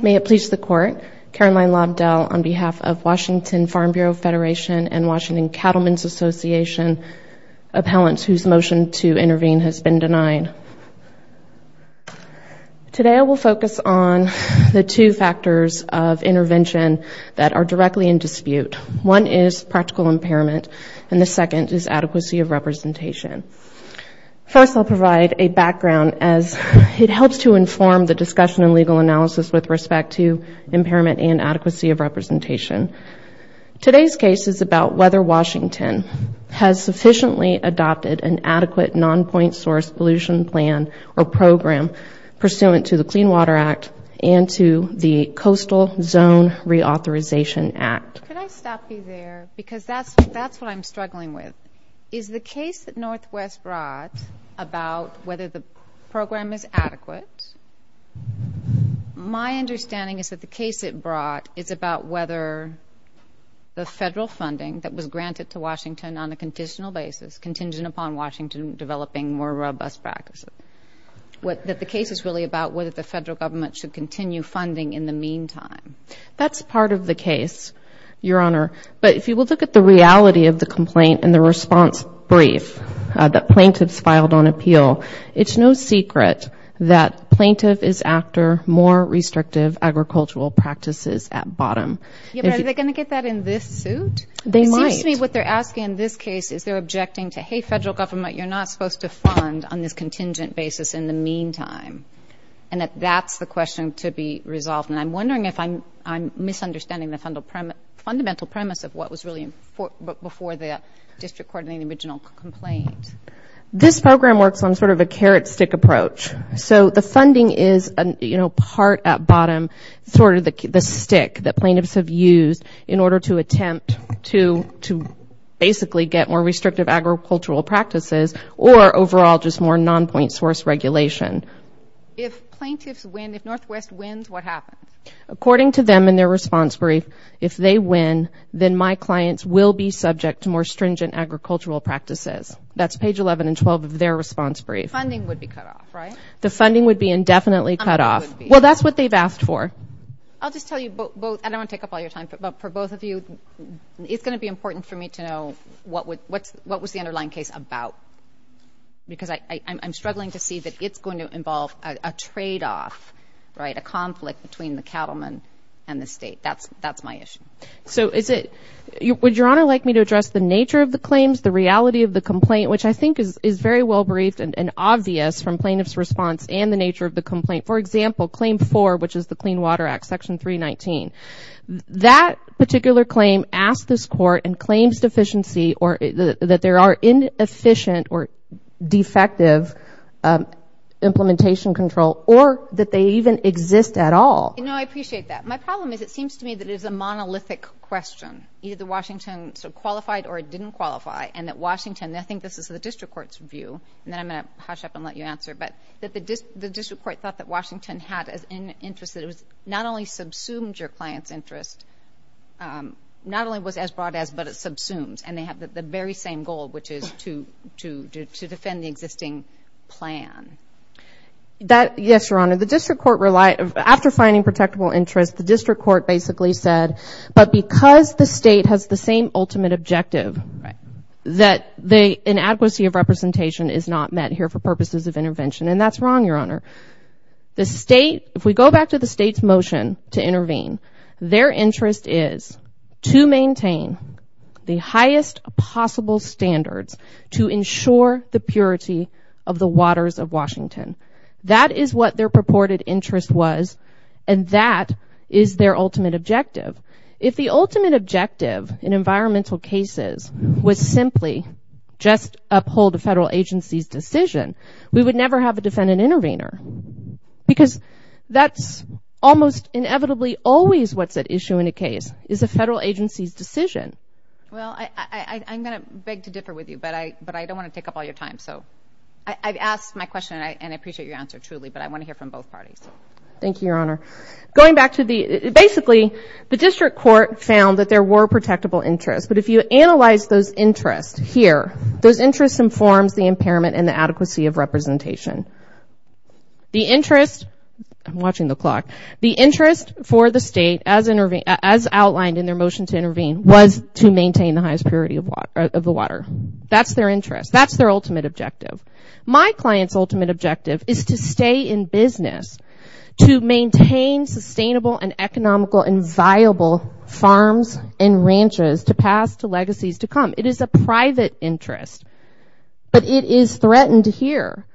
May it please the Court, Caroline Lobdell on behalf of Washington Farm Bureau Federation and Washington Cattlemen's Association appellants whose motion to intervene has been denied. Today I will focus on the two factors of intervention that are directly in dispute. One is practical impairment and the second is adequacy of representation. First I'll provide a background as it helps to inform the discussion and legal analysis with respect to impairment and adequacy of representation. Today's case is about whether Washington has sufficiently adopted an adequate non-point source pollution plan or program pursuant to the Clean Water Act and to the Coastal Zone Reauthorization Act. Could I stop you there because that's what I'm struggling with. Is the case that Northwest brought about whether the program is adequate? My understanding is that the case it brought is about whether the federal funding that was granted to Washington on a conditional basis contingent upon Washington developing more robust practices, that the case is really about whether the federal government should continue funding in the meantime. That's part of the case, Your Honor, but if you will look at the reality of the complaint and the response brief that plaintiffs filed on appeal, it's no secret that plaintiff is after more restrictive agricultural practices at bottom. Yeah, but are they going to get that in this suit? They might. It seems to me what they're asking in this case is they're objecting to, hey, federal government, you're not supposed to fund on this contingent basis in the meantime, and that that's the question to be resolved. And I'm wondering if I'm misunderstanding the fundamental premise of what was really before the district court in the original complaint. This program works on sort of a carrot stick approach. So the funding is, you know, part at bottom, sort of the stick that plaintiffs have used in order to attempt to basically get more restrictive agricultural practices or overall just more non-point source regulation. If plaintiffs win, if Northwest wins, what happens? According to them in their response brief, if they win, then my clients will be subject to more stringent agricultural practices. That's page 11 and 12 of their response brief. Funding would be cut off, right? The funding would be indefinitely cut off. Well, that's what they've asked for. I'll just tell you both, and I don't want to take up all your time, but for both of you, it's going to be important for me to know what was the underlying case about, because I'm struggling to see that it's going to involve a tradeoff, right, a conflict between the cattlemen and the state. That's my issue. So is it – would Your Honor like me to address the nature of the claims, the reality of the complaint, which I think is very well briefed and obvious from plaintiff's response and the nature of the complaint. For example, Claim 4, which is the Clean Water Act, Section 319. That particular claim asks this Court in claims deficiency that there are inefficient or defective implementation control, or that they even exist at all. No, I appreciate that. My problem is it seems to me that it is a monolithic question, either Washington sort of qualified or it didn't qualify, and that Washington – and I think this is the district court's view, and then I'm going to hush up and let you answer, but that the district court thought that Washington had an interest that it not only subsumed your client's interest, not only was as broad as, but it subsumes, and they have the very same goal, which is to defend the existing plan. Yes, Your Honor. The district court relied – after finding protectable interest, the district court basically said, but because the state has the same ultimate objective, that the inadequacy of representation is not met here for purposes of intervention, and that's wrong, Your Honor. The state – if we go back to the state's motion to intervene, their interest is to maintain the highest possible standards to ensure the purity of the waters of Washington. That is what their purported interest was, and that is their ultimate objective. If the ultimate objective in environmental cases was simply just uphold a federal agency's decision, we would never have a defendant intervener because that's almost inevitably always what's at issue in a case, is a federal agency's decision. Well, I'm going to beg to differ with you, but I don't want to take up all your time, so I've asked my question and I appreciate your answer truly, but I want to hear from both parties. Thank you, Your Honor. Going back to the – basically, the district court found that there were protectable interests, but if you analyze those interests here, those interests informs the impairment and the adequacy of representation. The interest – I'm watching the clock – the interest for the state, as outlined in their motion to intervene, was to maintain the highest purity of the water. That's their interest. That's their ultimate objective. My client's ultimate objective is to stay in business, to maintain sustainable and economical and viable farms and ranches to pass to legacies to come. It is a private interest. But it is threatened here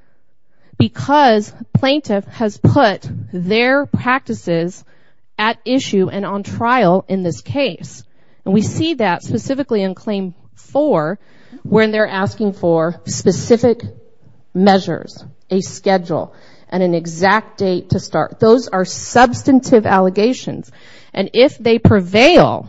because plaintiff has put their practices at issue and on trial in this case. And we see that specifically in Claim 4 when they're asking for specific measures, a schedule, and an exact date to start. Those are substantive allegations. And if they prevail,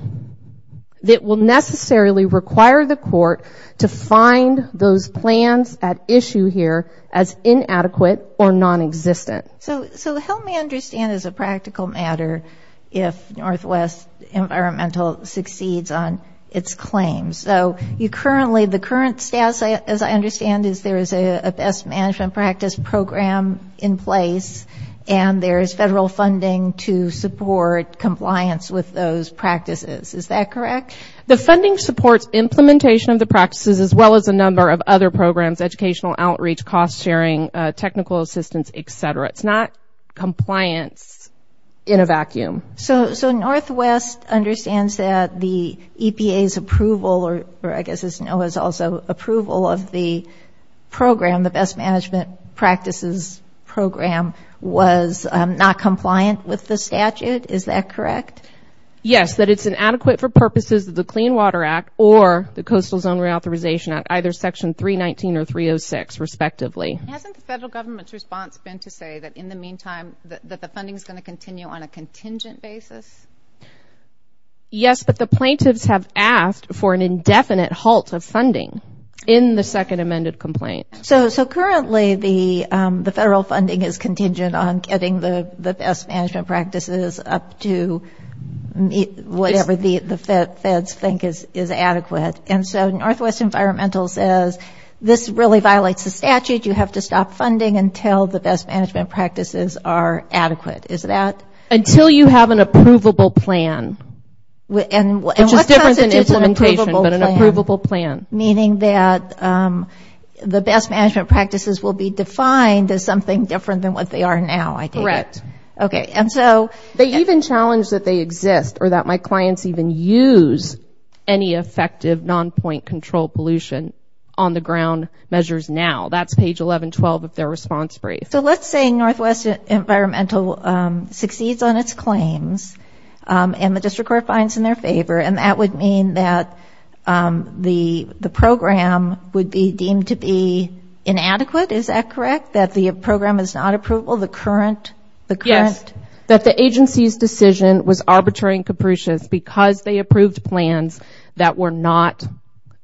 it will necessarily require the court to find those plans at issue here as inadequate or nonexistent. So help me understand as a practical matter if Northwest Environmental succeeds on its claims. So you currently – the current status, as I understand, is there is a best management practice program in place and there is federal funding to support compliance with those practices. Is that correct? The funding supports implementation of the practices as well as a number of other programs, educational outreach, cost sharing, technical assistance, et cetera. It's not compliance in a vacuum. So Northwest understands that the EPA's approval, or I guess as NOAA's also approval of the program, the best management practices program was not compliant with the statute. Is that correct? Yes, that it's inadequate for purposes of the Clean Water Act or the Coastal Zone Reauthorization Act, either Section 319 or 306 respectively. Hasn't the federal government's response been to say that in the meantime that the funding is going to continue on a contingent basis? Yes, but the plaintiffs have asked for an indefinite halt of funding in the second amended complaint. So currently the federal funding is contingent on getting the best management practices up to whatever the feds think is adequate. And so Northwest Environmental says this really violates the statute. You have to stop funding until the best management practices are adequate. Is that? Until you have an approvable plan. Which is different than implementation, but an approvable plan. Meaning that the best management practices will be defined as something different than what they are now, I take it? Correct. Okay. They even challenge that they exist or that my clients even use any effective non-point control pollution on the ground measures now. That's page 1112 of their response brief. So let's say Northwest Environmental succeeds on its claims and the district court finds in their favor, and that would mean that the program would be deemed to be inadequate, is that correct? That the program is not approvable? Yes, that the agency's decision was arbitrary and capricious because they approved plans that were not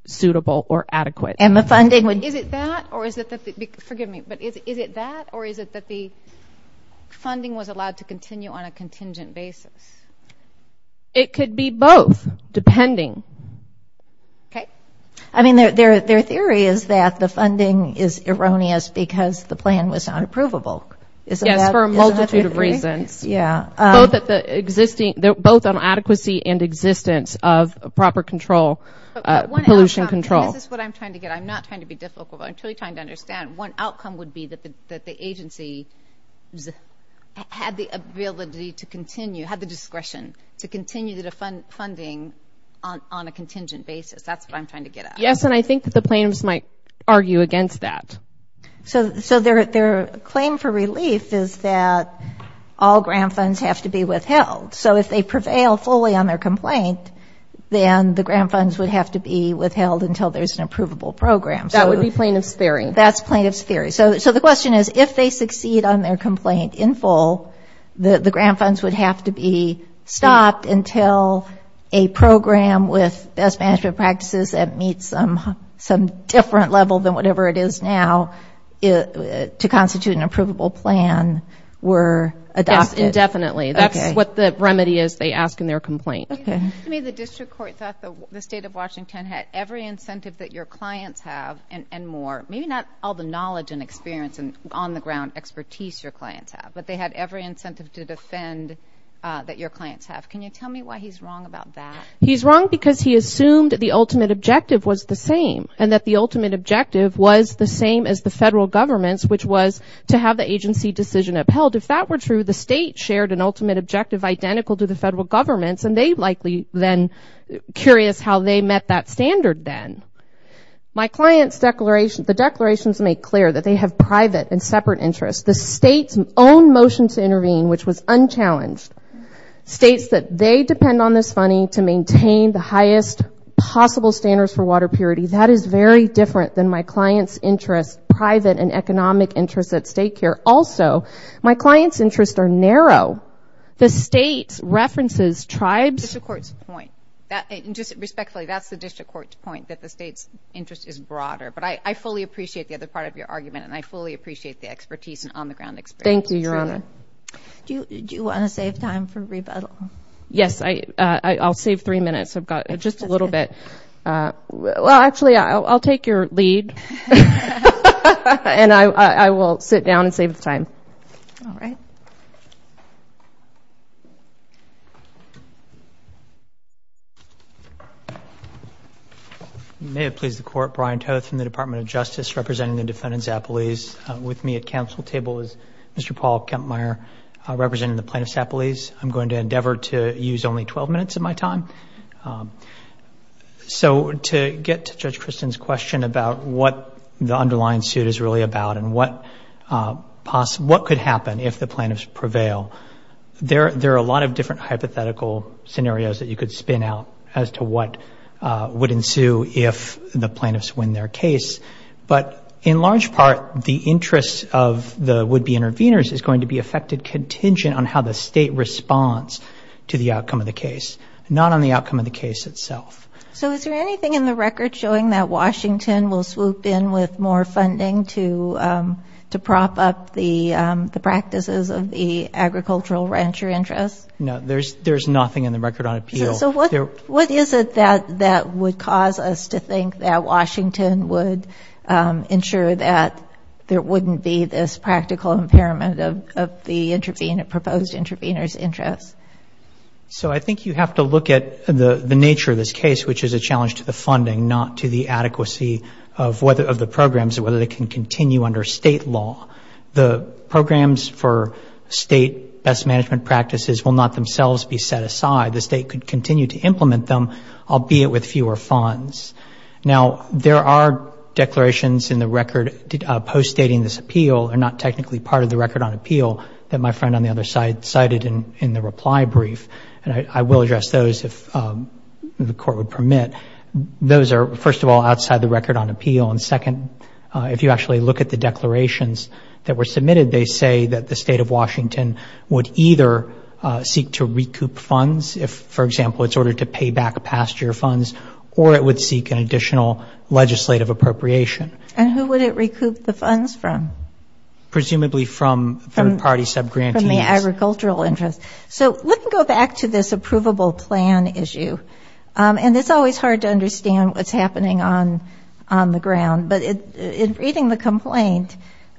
suitable or adequate. And the funding would be? Is it that or is it that the funding was allowed to continue on a contingent basis? It could be both, depending. Okay. I mean, their theory is that the funding is erroneous because the plan was not approvable. Yes, for a multitude of reasons. Yeah. Both on adequacy and existence of proper pollution control. This is what I'm trying to get. I'm not trying to be difficult, but I'm truly trying to understand. One outcome would be that the agency had the ability to continue, had the discretion to continue the funding on a contingent basis. That's what I'm trying to get at. Yes, and I think that the plaintiffs might argue against that. So their claim for relief is that all grant funds have to be withheld. So if they prevail fully on their complaint, then the grant funds would have to be withheld until there's an approvable program. That's plaintiff's theory. So the question is, if they succeed on their complaint in full, the grant funds would have to be stopped until a program with best management practices that meets some different level than whatever it is now to constitute an approvable plan were adopted. Yes, indefinitely. That's what the remedy is they ask in their complaint. Okay. To me, the district court thought the State of Washington had every incentive that your clients have and more. Maybe not all the knowledge and experience and on-the-ground expertise your clients have, but they had every incentive to defend that your clients have. Can you tell me why he's wrong about that? He's wrong because he assumed the ultimate objective was the same and that the ultimate objective was the same as the federal government's, which was to have the agency decision upheld. If that were true, the state shared an ultimate objective identical to the federal government's, and they likely then curious how they met that standard then. My client's declaration, the declarations make clear that they have private and separate interests. The state's own motion to intervene, which was unchallenged, states that they depend on this funding to maintain the highest possible standards for water purity. That is very different than my client's interests, private and economic interests at state care. Also, my client's interests are narrow. The state references tribes. Respectfully, that's the district court's point, that the state's interest is broader. But I fully appreciate the other part of your argument, and I fully appreciate the expertise and on-the-ground experience. Thank you, Your Honor. Do you want to save time for rebuttal? Yes, I'll save three minutes. I've got just a little bit. Well, actually, I'll take your lead, and I will sit down and save the time. All right. You may have pleased the Court. Brian Toth from the Department of Justice, representing the defendants' appellees. With me at council table is Mr. Paul Kempmeier, representing the plaintiffs' appellees. I'm going to endeavor to use only 12 minutes of my time. So to get to Judge Kristen's question about what the underlying suit is really about and what could happen if the plaintiffs prevail, there are a lot of different hypothetical scenarios that you could spin out as to what would ensue if the plaintiffs win their case. But in large part, the interest of the would-be intervenors is going to be affected contingent on how the state responds to the outcome of the case, not on the outcome of the case itself. So is there anything in the record showing that Washington will swoop in with more funding to prop up the practices of the agricultural rancher interest? No, there's nothing in the record on appeal. So what is it that would cause us to think that Washington would ensure that there wouldn't be this practical impairment of the proposed intervenor's interest? So I think you have to look at the nature of this case, which is a challenge to the funding, not to the adequacy of the programs and whether they can continue under state law. The programs for state best management practices will not themselves be set aside. The state could continue to implement them, albeit with fewer funds. Now, there are declarations in the record post-stating this appeal, and not technically part of the record on appeal, that my friend on the other side cited in the reply brief. And I will address those if the Court would permit. But those are, first of all, outside the record on appeal. And second, if you actually look at the declarations that were submitted, they say that the State of Washington would either seek to recoup funds if, for example, it's ordered to pay back past year funds, or it would seek an additional legislative appropriation. And who would it recoup the funds from? Presumably from third-party subgrantees. From the agricultural interest. So let me go back to this approvable plan issue. And it's always hard to understand what's happening on the ground. But in reading the complaint,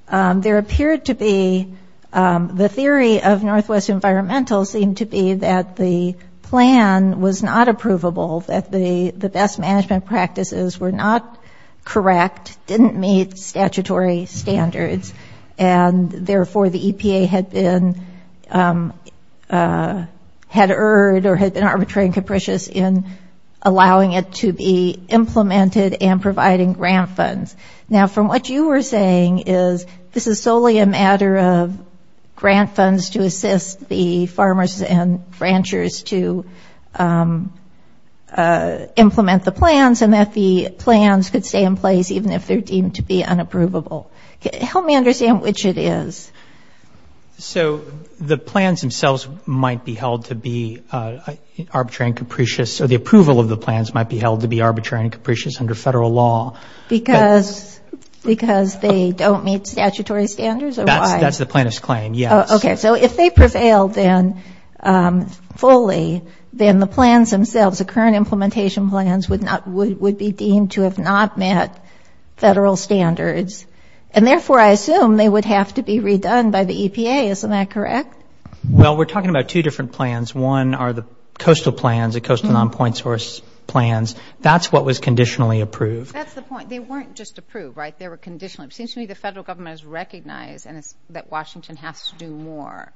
there appeared to be the theory of Northwest Environmental seemed to be that the plan was not approvable, that the best management practices were not correct, didn't meet statutory standards, and therefore the EPA had been, had erred or had been arbitrary and capricious in allowing it to be implemented and providing grant funds. Now, from what you were saying is this is solely a matter of grant funds to assist the farmers and ranchers to implement the plans and that the plans could stay in place even if they're deemed to be unapprovable. Help me understand which it is. So the plans themselves might be held to be arbitrary and capricious, or the approval of the plans might be held to be arbitrary and capricious under Federal law. Because they don't meet statutory standards or why? That's the plaintiff's claim, yes. Okay. So if they prevailed then fully, then the plans themselves, the current implementation plans, would be deemed to have not met Federal standards. And therefore I assume they would have to be redone by the EPA. Isn't that correct? Well, we're talking about two different plans. One are the coastal plans, the coastal nonpoint source plans. That's what was conditionally approved. That's the point. They weren't just approved, right? They were conditionally approved. It seems to me the Federal Government has recognized that Washington has to do more.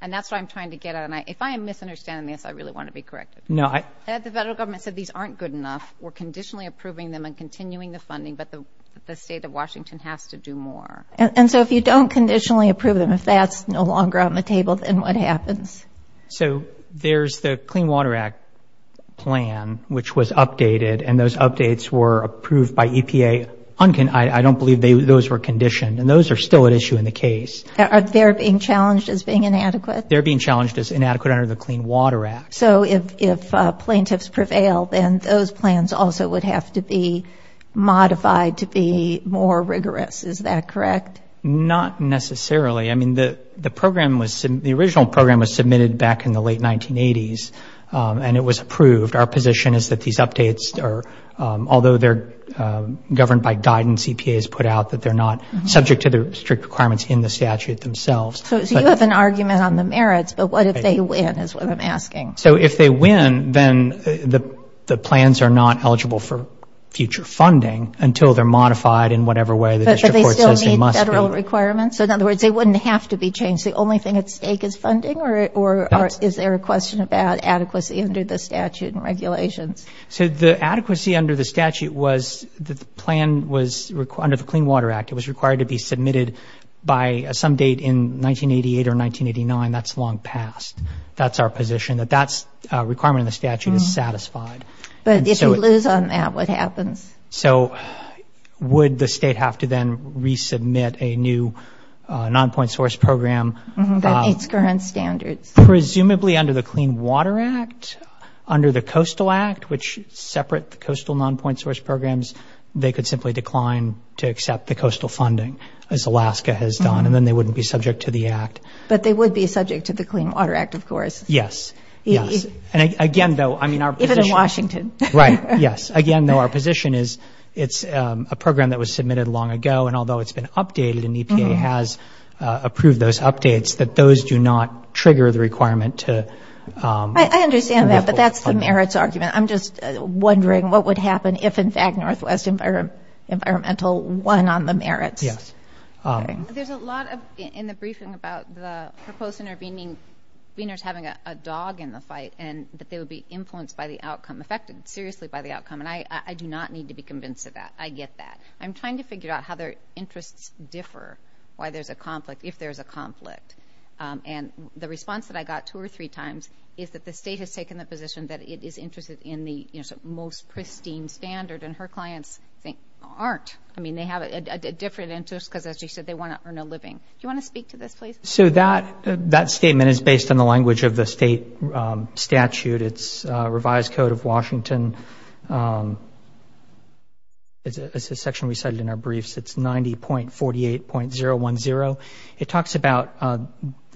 And that's what I'm trying to get at. And if I am misunderstanding this, I really want to be corrected. The Federal Government said these aren't good enough. We're conditionally approving them and continuing the funding, but the State of Washington has to do more. And so if you don't conditionally approve them, if that's no longer on the table, then what happens? So there's the Clean Water Act plan, which was updated. And those updates were approved by EPA. I don't believe those were conditioned. And those are still at issue in the case. Are they being challenged as being inadequate? They're being challenged as inadequate under the Clean Water Act. So if plaintiffs prevail, then those plans also would have to be modified to be more rigorous. Is that correct? Not necessarily. I mean, the program was ‑‑ the original program was submitted back in the late 1980s, and it was approved. Our position is that these updates are, although they're governed by guidance EPA has put out, that they're not subject to the strict requirements in the statute themselves. So you have an argument on the merits, but what if they win is what I'm asking. So if they win, then the plans are not eligible for future funding until they're modified in whatever way the district court says they must be. But do they still meet federal requirements? So in other words, they wouldn't have to be changed. The only thing at stake is funding? Or is there a question about adequacy under the statute and regulations? So the adequacy under the statute was that the plan was, under the Clean Water Act, it was required to be submitted by some date in 1988 or 1989. That's long past. That's our position, that that requirement in the statute is satisfied. But if you lose on that, what happens? So would the state have to then resubmit a new nonpoint source program? That meets current standards. Presumably under the Clean Water Act, under the Coastal Act, which separate the coastal nonpoint source programs, they could simply decline to accept the coastal funding, as Alaska has done, and then they wouldn't be subject to the Act. But they would be subject to the Clean Water Act, of course. Yes, yes. And again, though, I mean, our position – Even in Washington. Right, yes. Again, though, our position is it's a program that was submitted long ago, and although it's been updated and EPA has approved those updates, that those do not trigger the requirement to – I understand that, but that's the merits argument. I'm just wondering what would happen if, in fact, Northwest Environmental won on the merits. Yes. There's a lot in the briefing about the proposed interveners having a dog in the fight and that they would be influenced by the outcome, affected seriously by the outcome, and I do not need to be convinced of that. I get that. I'm trying to figure out how their interests differ, why there's a conflict, if there's a conflict. And the response that I got two or three times is that the state has taken the position that it is interested in the most pristine standard, and her clients aren't. I mean, they have a different interest because, as you said, they want to earn a living. Do you want to speak to this, please? So that statement is based on the language of the state statute. It's a revised code of Washington. It's a section we cited in our briefs. It's 90.48.010. It talks about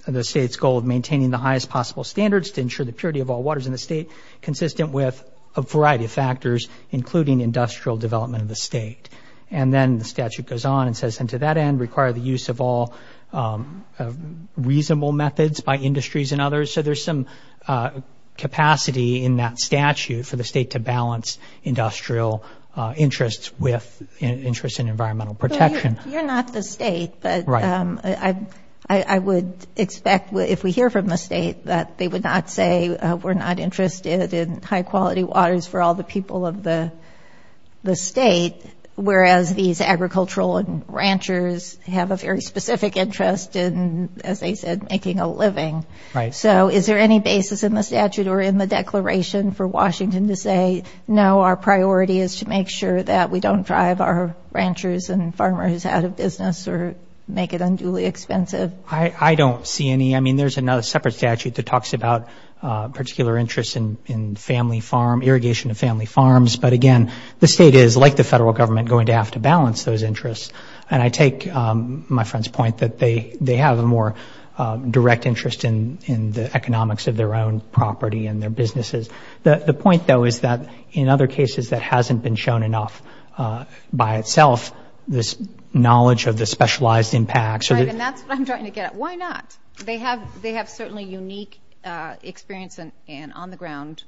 the state's goal of maintaining the highest possible standards to ensure the purity of all waters in the state consistent with a variety of factors, including industrial development of the state. And then the statute goes on and says, and to that end, require the use of all reasonable methods by industries and others. So there's some capacity in that statute for the state to balance industrial interests with interests in environmental protection. You're not the state, but I would expect if we hear from the state that they would not say we're not interested in high-quality waters for all the people of the state, whereas these agricultural and ranchers have a very specific interest in, as they said, making a living. Right. So is there any basis in the statute or in the declaration for Washington to say, no, our priority is to make sure that we don't drive our ranchers and farmers out of business or make it unduly expensive? I don't see any. I mean, there's another separate statute that talks about particular interests in family farm, irrigation of family farms. But, again, the state is, like the federal government, going to have to balance those interests. And I take my friend's point that they have a more direct interest in the economics of their own property and their businesses. The point, though, is that in other cases that hasn't been shown enough by itself, this knowledge of the specialized impacts. Right, and that's what I'm trying to get at. Why not? They have certainly unique experience and on-the-ground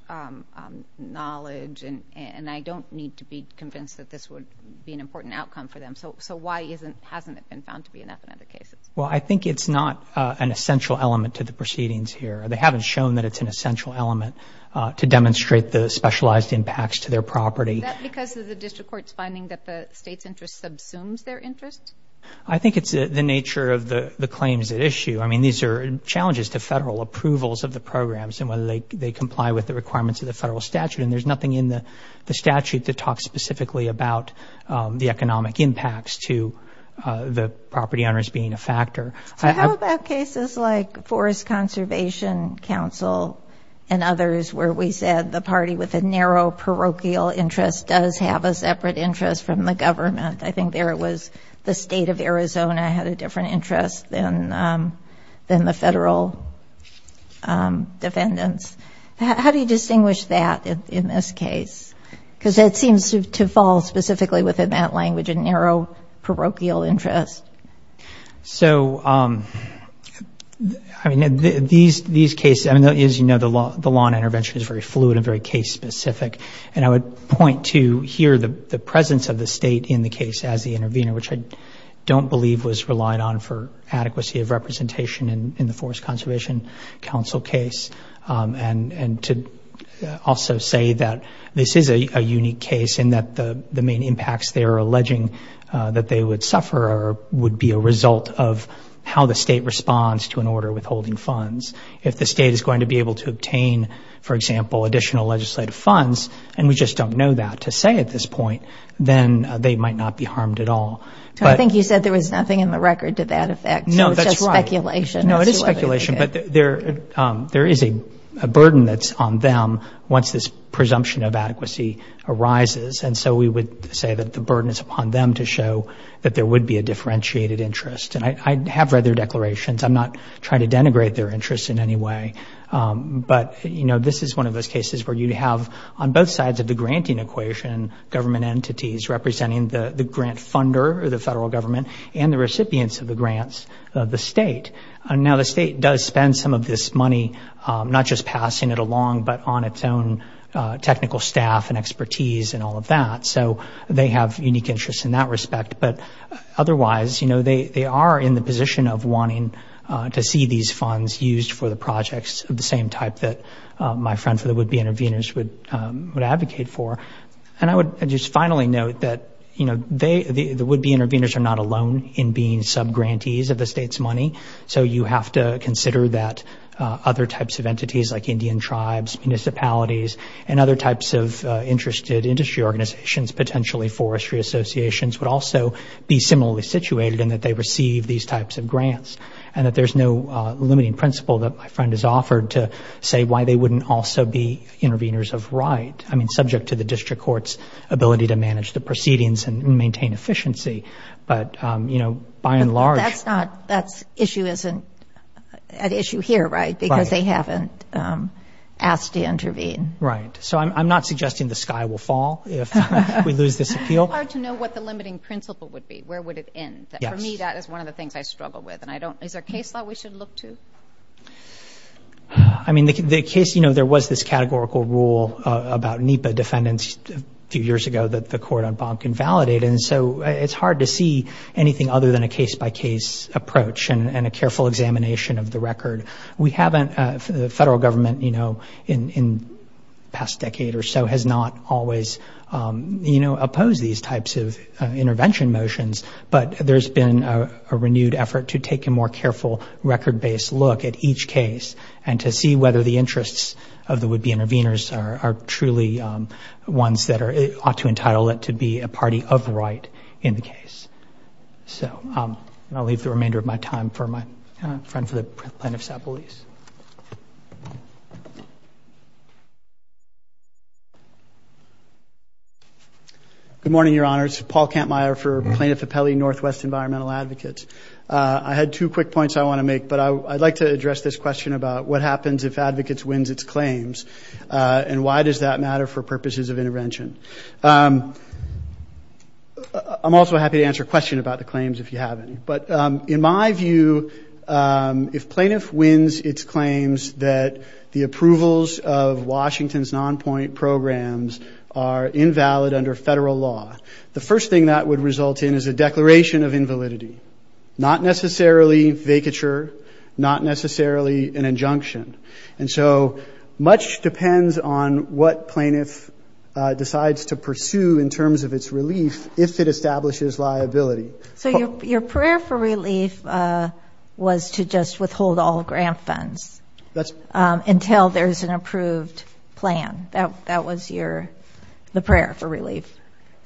knowledge, and I don't need to be convinced that this would be an important outcome for them. So why hasn't it been found to be enough in other cases? Well, I think it's not an essential element to the proceedings here. They haven't shown that it's an essential element to demonstrate the specialized impacts to their property. Is that because of the district court's finding that the state's interest subsumes their interest? I think it's the nature of the claims at issue. I mean, these are challenges to federal approvals of the programs and whether they comply with the requirements of the federal statute. And there's nothing in the statute that talks specifically about the economic impacts to the property owners being a factor. So how about cases like Forest Conservation Council and others where we said the party with a narrow parochial interest does have a separate interest from the government? I think there it was the state of Arizona had a different interest than the federal defendants. How do you distinguish that in this case? Because it seems to fall specifically within that language, a narrow parochial interest. So, I mean, these cases, as you know, the law on intervention is very fluid and very case-specific, and I would point to here the presence of the state in the case as the intervener, which I don't believe was relied on for adequacy of representation in the Forest Conservation Council case, and to also say that this is a unique case and that the main impacts they are alleging that they would suffer would be a result of how the state responds to an order withholding funds. If the state is going to be able to obtain, for example, additional legislative funds, and we just don't know that to say at this point, then they might not be harmed at all. So I think you said there was nothing in the record to that effect. No, that's right. So it's just speculation. No, it is speculation, but there is a burden that's on them once this presumption of adequacy arises, and so we would say that the burden is upon them to show that there would be a differentiated interest. And I have read their declarations. I'm not trying to denigrate their interests in any way. But, you know, this is one of those cases where you have on both sides of the granting equation government entities representing the grant funder or the federal government and the recipients of the grants of the state. Now, the state does spend some of this money not just passing it along, but on its own technical staff and expertise and all of that. So they have unique interests in that respect. But otherwise, you know, they are in the position of wanting to see these funds used for the projects of the same type that my friend for the would-be intervenors would advocate for. And I would just finally note that, you know, the would-be intervenors are not alone in being sub-grantees of the state's money. So you have to consider that other types of entities like Indian tribes, municipalities, and other types of interested industry organizations, potentially forestry associations, would also be similarly situated in that they receive these types of grants. And that there's no limiting principle that my friend has offered to say why they wouldn't also be intervenors of right. I mean, subject to the district court's ability to manage the proceedings and maintain efficiency. But, you know, by and large... But that's not, that issue isn't at issue here, right? Right. Because they haven't asked to intervene. Right. So I'm not suggesting the sky will fall if we lose this appeal. It's hard to know what the limiting principle would be. Where would it end? Yes. For me, that is one of the things I struggle with. And I don't, is there a case law we should look to? I mean, the case, you know, there was this categorical rule about NEPA defendants a few years ago that the court on bond can validate. And so it's hard to see anything other than a case-by-case approach and a careful examination of the record. We haven't, the federal government, you know, in the past decade or so has not always, you know, opposed these types of intervention motions. But there's been a renewed effort to take a more careful record-based look at each case and to see whether the interests of the would-be intervenors are truly ones that ought to entitle it to be a party of right in the case. So I'll leave the remainder of my time for my friend for the plaintiff's appellees. Good morning, Your Honors. Paul Kampmeyer for Plaintiff Appellee Northwest Environmental Advocates. I had two quick points I want to make, but I'd like to address this question about what happens if advocates wins its claims and why does that matter for purposes of intervention. I'm also happy to answer a question about the claims if you have any. But in my view, if plaintiff wins its claims that the approvals of Washington's non-point programs are invalid under federal law, the first thing that would result in is a declaration of invalidity, not necessarily vacature, not necessarily an injunction. And so much depends on what plaintiff decides to pursue in terms of its relief if it establishes liability. So your prayer for relief was to just withhold all grant funds until there's an approved plan. That was the prayer for relief.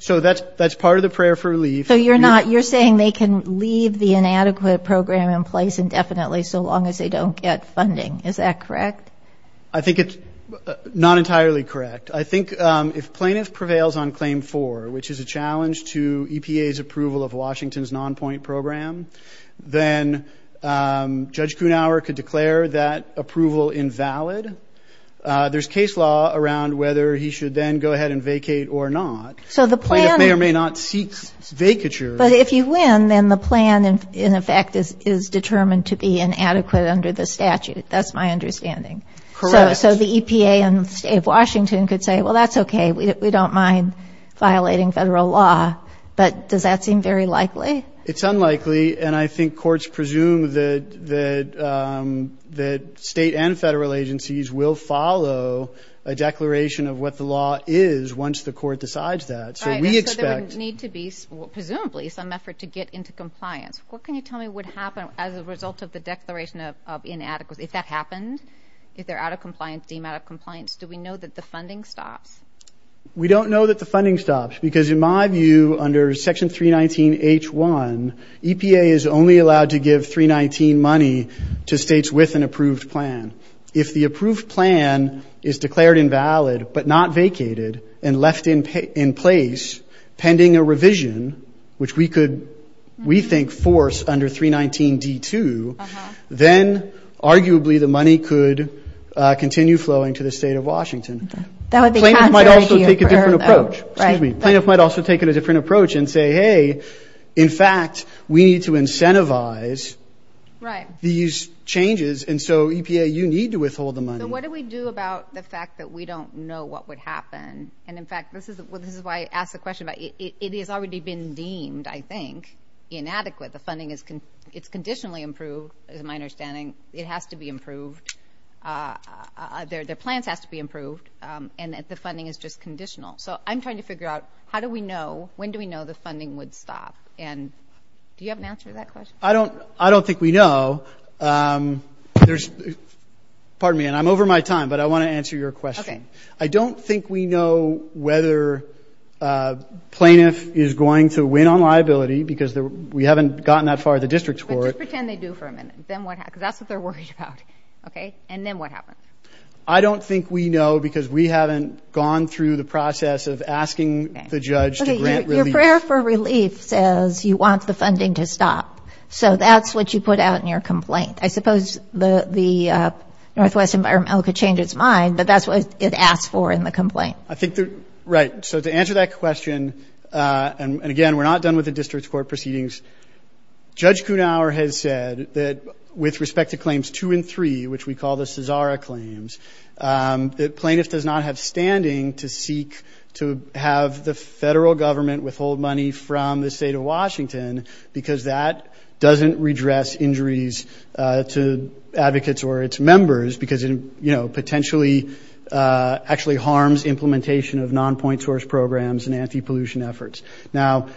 So that's part of the prayer for relief. So you're saying they can leave the inadequate program in place indefinitely so long as they don't get funding. Is that correct? I think it's not entirely correct. I think if plaintiff prevails on Claim 4, which is a challenge to EPA's approval of Washington's non-point program, then Judge Kuhnhauer could declare that approval invalid. There's case law around whether he should then go ahead and vacate or not. Plaintiff may or may not seek vacature. But if you win, then the plan, in effect, is determined to be inadequate under the statute. That's my understanding. Correct. So the EPA and the state of Washington could say, well, that's okay. We don't mind violating federal law. But does that seem very likely? It's unlikely, and I think courts presume that state and federal agencies will follow a declaration of what the law is once the court decides that. So there would need to be, presumably, some effort to get into compliance. What can you tell me would happen as a result of the declaration of inadequacy? If that happened, if they're deemed out of compliance, do we know that the funding stops? We don't know that the funding stops because, in my view, under Section 319H1, EPA is only allowed to give 319 money to states with an approved plan. If the approved plan is declared invalid but not vacated and left in place pending a revision, which we could, we think, force under 319D2, then, arguably, the money could continue flowing to the state of Washington. That would be counterintuitive for her, though. Plaintiffs might also take a different approach and say, hey, in fact, we need to incentivize these changes, and so EPA, you need to withhold the money. So what do we do about the fact that we don't know what would happen? And, in fact, this is why I asked the question. It has already been deemed, I think, inadequate. The funding is conditionally improved, is my understanding. It has to be improved. Their plans has to be improved, and the funding is just conditional. So I'm trying to figure out how do we know, when do we know the funding would stop? And do you have an answer to that question? I don't think we know. There's – pardon me, and I'm over my time, but I want to answer your question. Okay. I don't think we know whether a plaintiff is going to win on liability, because we haven't gotten that far at the district court. But just pretend they do for a minute. Then what happens? Because that's what they're worried about. Okay? And then what happens? I don't think we know, because we haven't gone through the process of asking the judge to grant relief. Your prayer for relief says you want the funding to stop. So that's what you put out in your complaint. I suppose the Northwest Environmental could change its mind, but that's what it asks for in the complaint. Right. So to answer that question, and, again, we're not done with the district court proceedings, Judge Kuhnhauer has said that with respect to claims two and three, which we call the Cesara claims, the plaintiff does not have standing to seek to have the federal government withhold money from the state of Washington, because that doesn't redress injuries to advocates or its members, because it potentially actually harms implementation of non-point source programs and anti-pollution efforts. Now,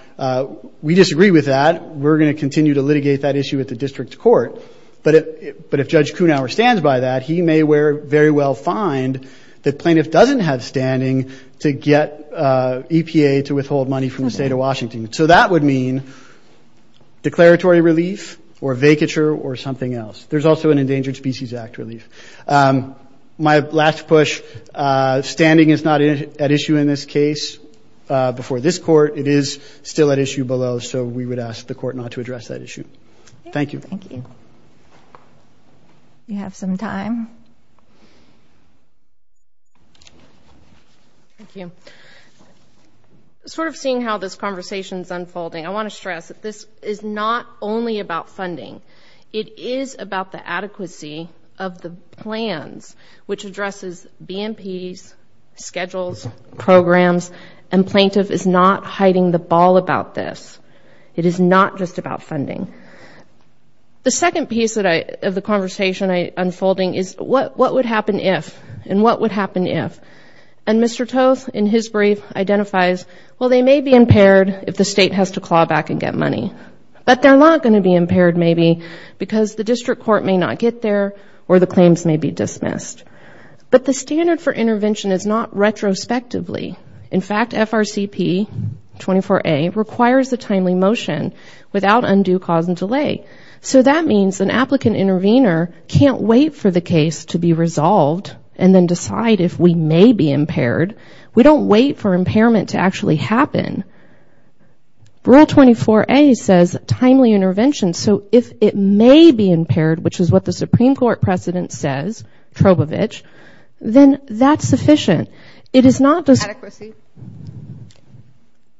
we disagree with that. We're going to continue to litigate that issue at the district court. But if Judge Kuhnhauer stands by that, he may very well find that plaintiff doesn't have standing to get EPA to withhold money from the state of Washington. So that would mean declaratory relief or vacature or something else. There's also an Endangered Species Act relief. My last push, standing is not at issue in this case before this court. It is still at issue below, so we would ask the court not to address that issue. Thank you. Thank you. We have some time. Thank you. Sort of seeing how this conversation is unfolding, I want to stress that this is not only about funding. It is about the adequacy of the plans, which addresses BMPs, schedules, programs, and plaintiff is not hiding the ball about this. It is not just about funding. The second piece of the conversation unfolding is what would happen if and what would happen if. And Mr. Toth, in his brief, identifies, well, they may be impaired if the state has to claw back and get money. But they're not going to be impaired maybe because the district court may not get there or the claims may be dismissed. But the standard for intervention is not retrospectively. In fact, FRCP 24A requires a timely motion without undue cause and delay. So that means an applicant intervener can't wait for the case to be resolved and then decide if we may be impaired. We don't wait for impairment to actually happen. Rule 24A says timely intervention. So if it may be impaired, which is what the Supreme Court precedent says, Trubovich, then that's sufficient. It is not just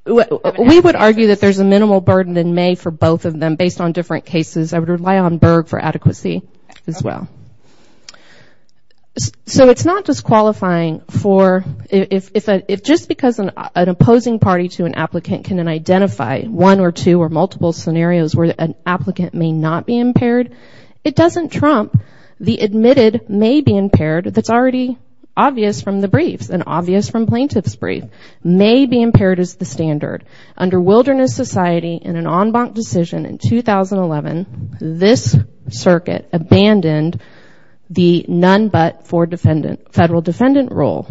we would argue that there's a minimal burden in May for both of them based on different cases. I would rely on Berg for adequacy as well. So it's not disqualifying for if just because an opposing party to an applicant can identify one or two or multiple scenarios where an applicant may not be impaired, it doesn't trump the admitted may be impaired that's already obvious from the briefs and obvious from plaintiff's brief. May be impaired is the standard. Under Wilderness Society in an en banc decision in 2011, this circuit abandoned the none but for federal defendant rule.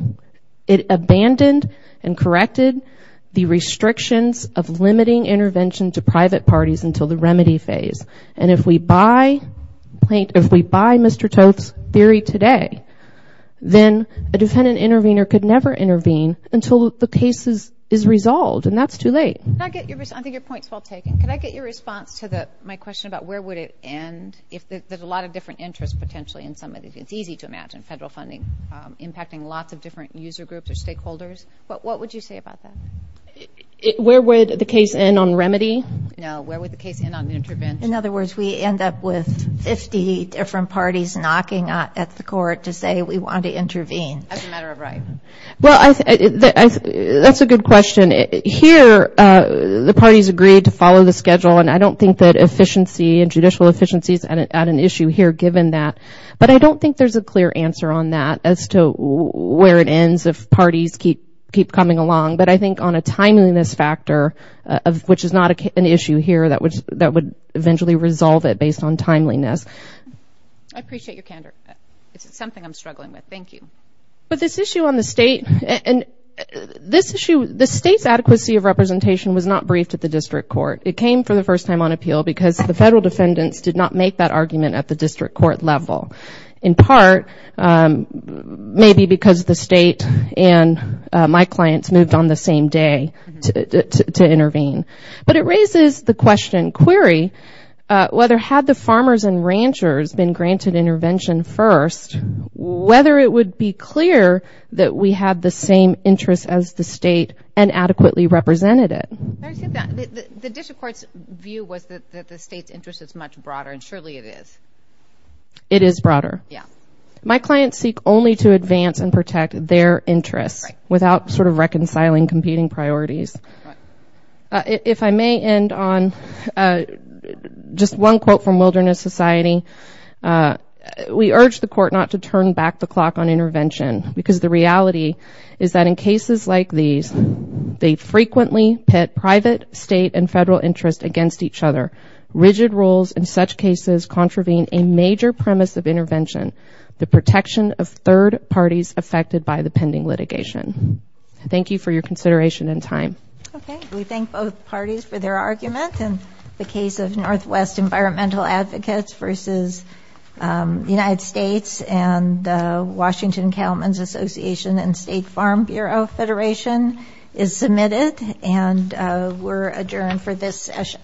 It abandoned and corrected the restrictions of limiting intervention to private parties until the remedy phase. And if we buy Mr. Toth's theory today, then a defendant intervener could never intervene until the case is resolved, and that's too late. I think your point is well taken. Can I get your response to my question about where would it end? There's a lot of different interests potentially in some of these. It's easy to imagine federal funding impacting lots of different user groups or stakeholders. What would you say about that? Where would the case end on remedy? No, where would the case end on intervention? In other words, we end up with 50 different parties knocking at the court to say we want to intervene. As a matter of right. Well, that's a good question. Here, the parties agreed to follow the schedule, and I don't think that efficiency and judicial efficiency is an issue here given that. But I don't think there's a clear answer on that as to where it ends if parties keep coming along. But I think on a timeliness factor, which is not an issue here, that would eventually resolve it based on timeliness. I appreciate your candor. It's something I'm struggling with. Thank you. But this issue on the state, and this issue, the state's adequacy of representation was not briefed at the district court. It came for the first time on appeal because the federal defendants did not make that argument at the district court level, in part maybe because the state and my clients moved on the same day to intervene. But it raises the question, query, whether had the farmers and ranchers been granted intervention first, whether it would be clear that we had the same interests as the state and adequately represented it. The district court's view was that the state's interest is much broader, and surely it is. It is broader. Yeah. My clients seek only to advance and protect their interests without sort of reconciling competing priorities. If I may end on just one quote from Wilderness Society, we urge the court not to turn back the clock on intervention because the reality is that in cases like these, they frequently pit private, state, and federal interests against each other. Rigid rules in such cases contravene a major premise of intervention, the protection of third parties affected by the pending litigation. Thank you for your consideration and time. Okay. We thank both parties for their argument. And the case of Northwest Environmental Advocates versus the United States and Washington Cattlemen's Association and State Farm Bureau Federation is submitted, and we're adjourned for this session.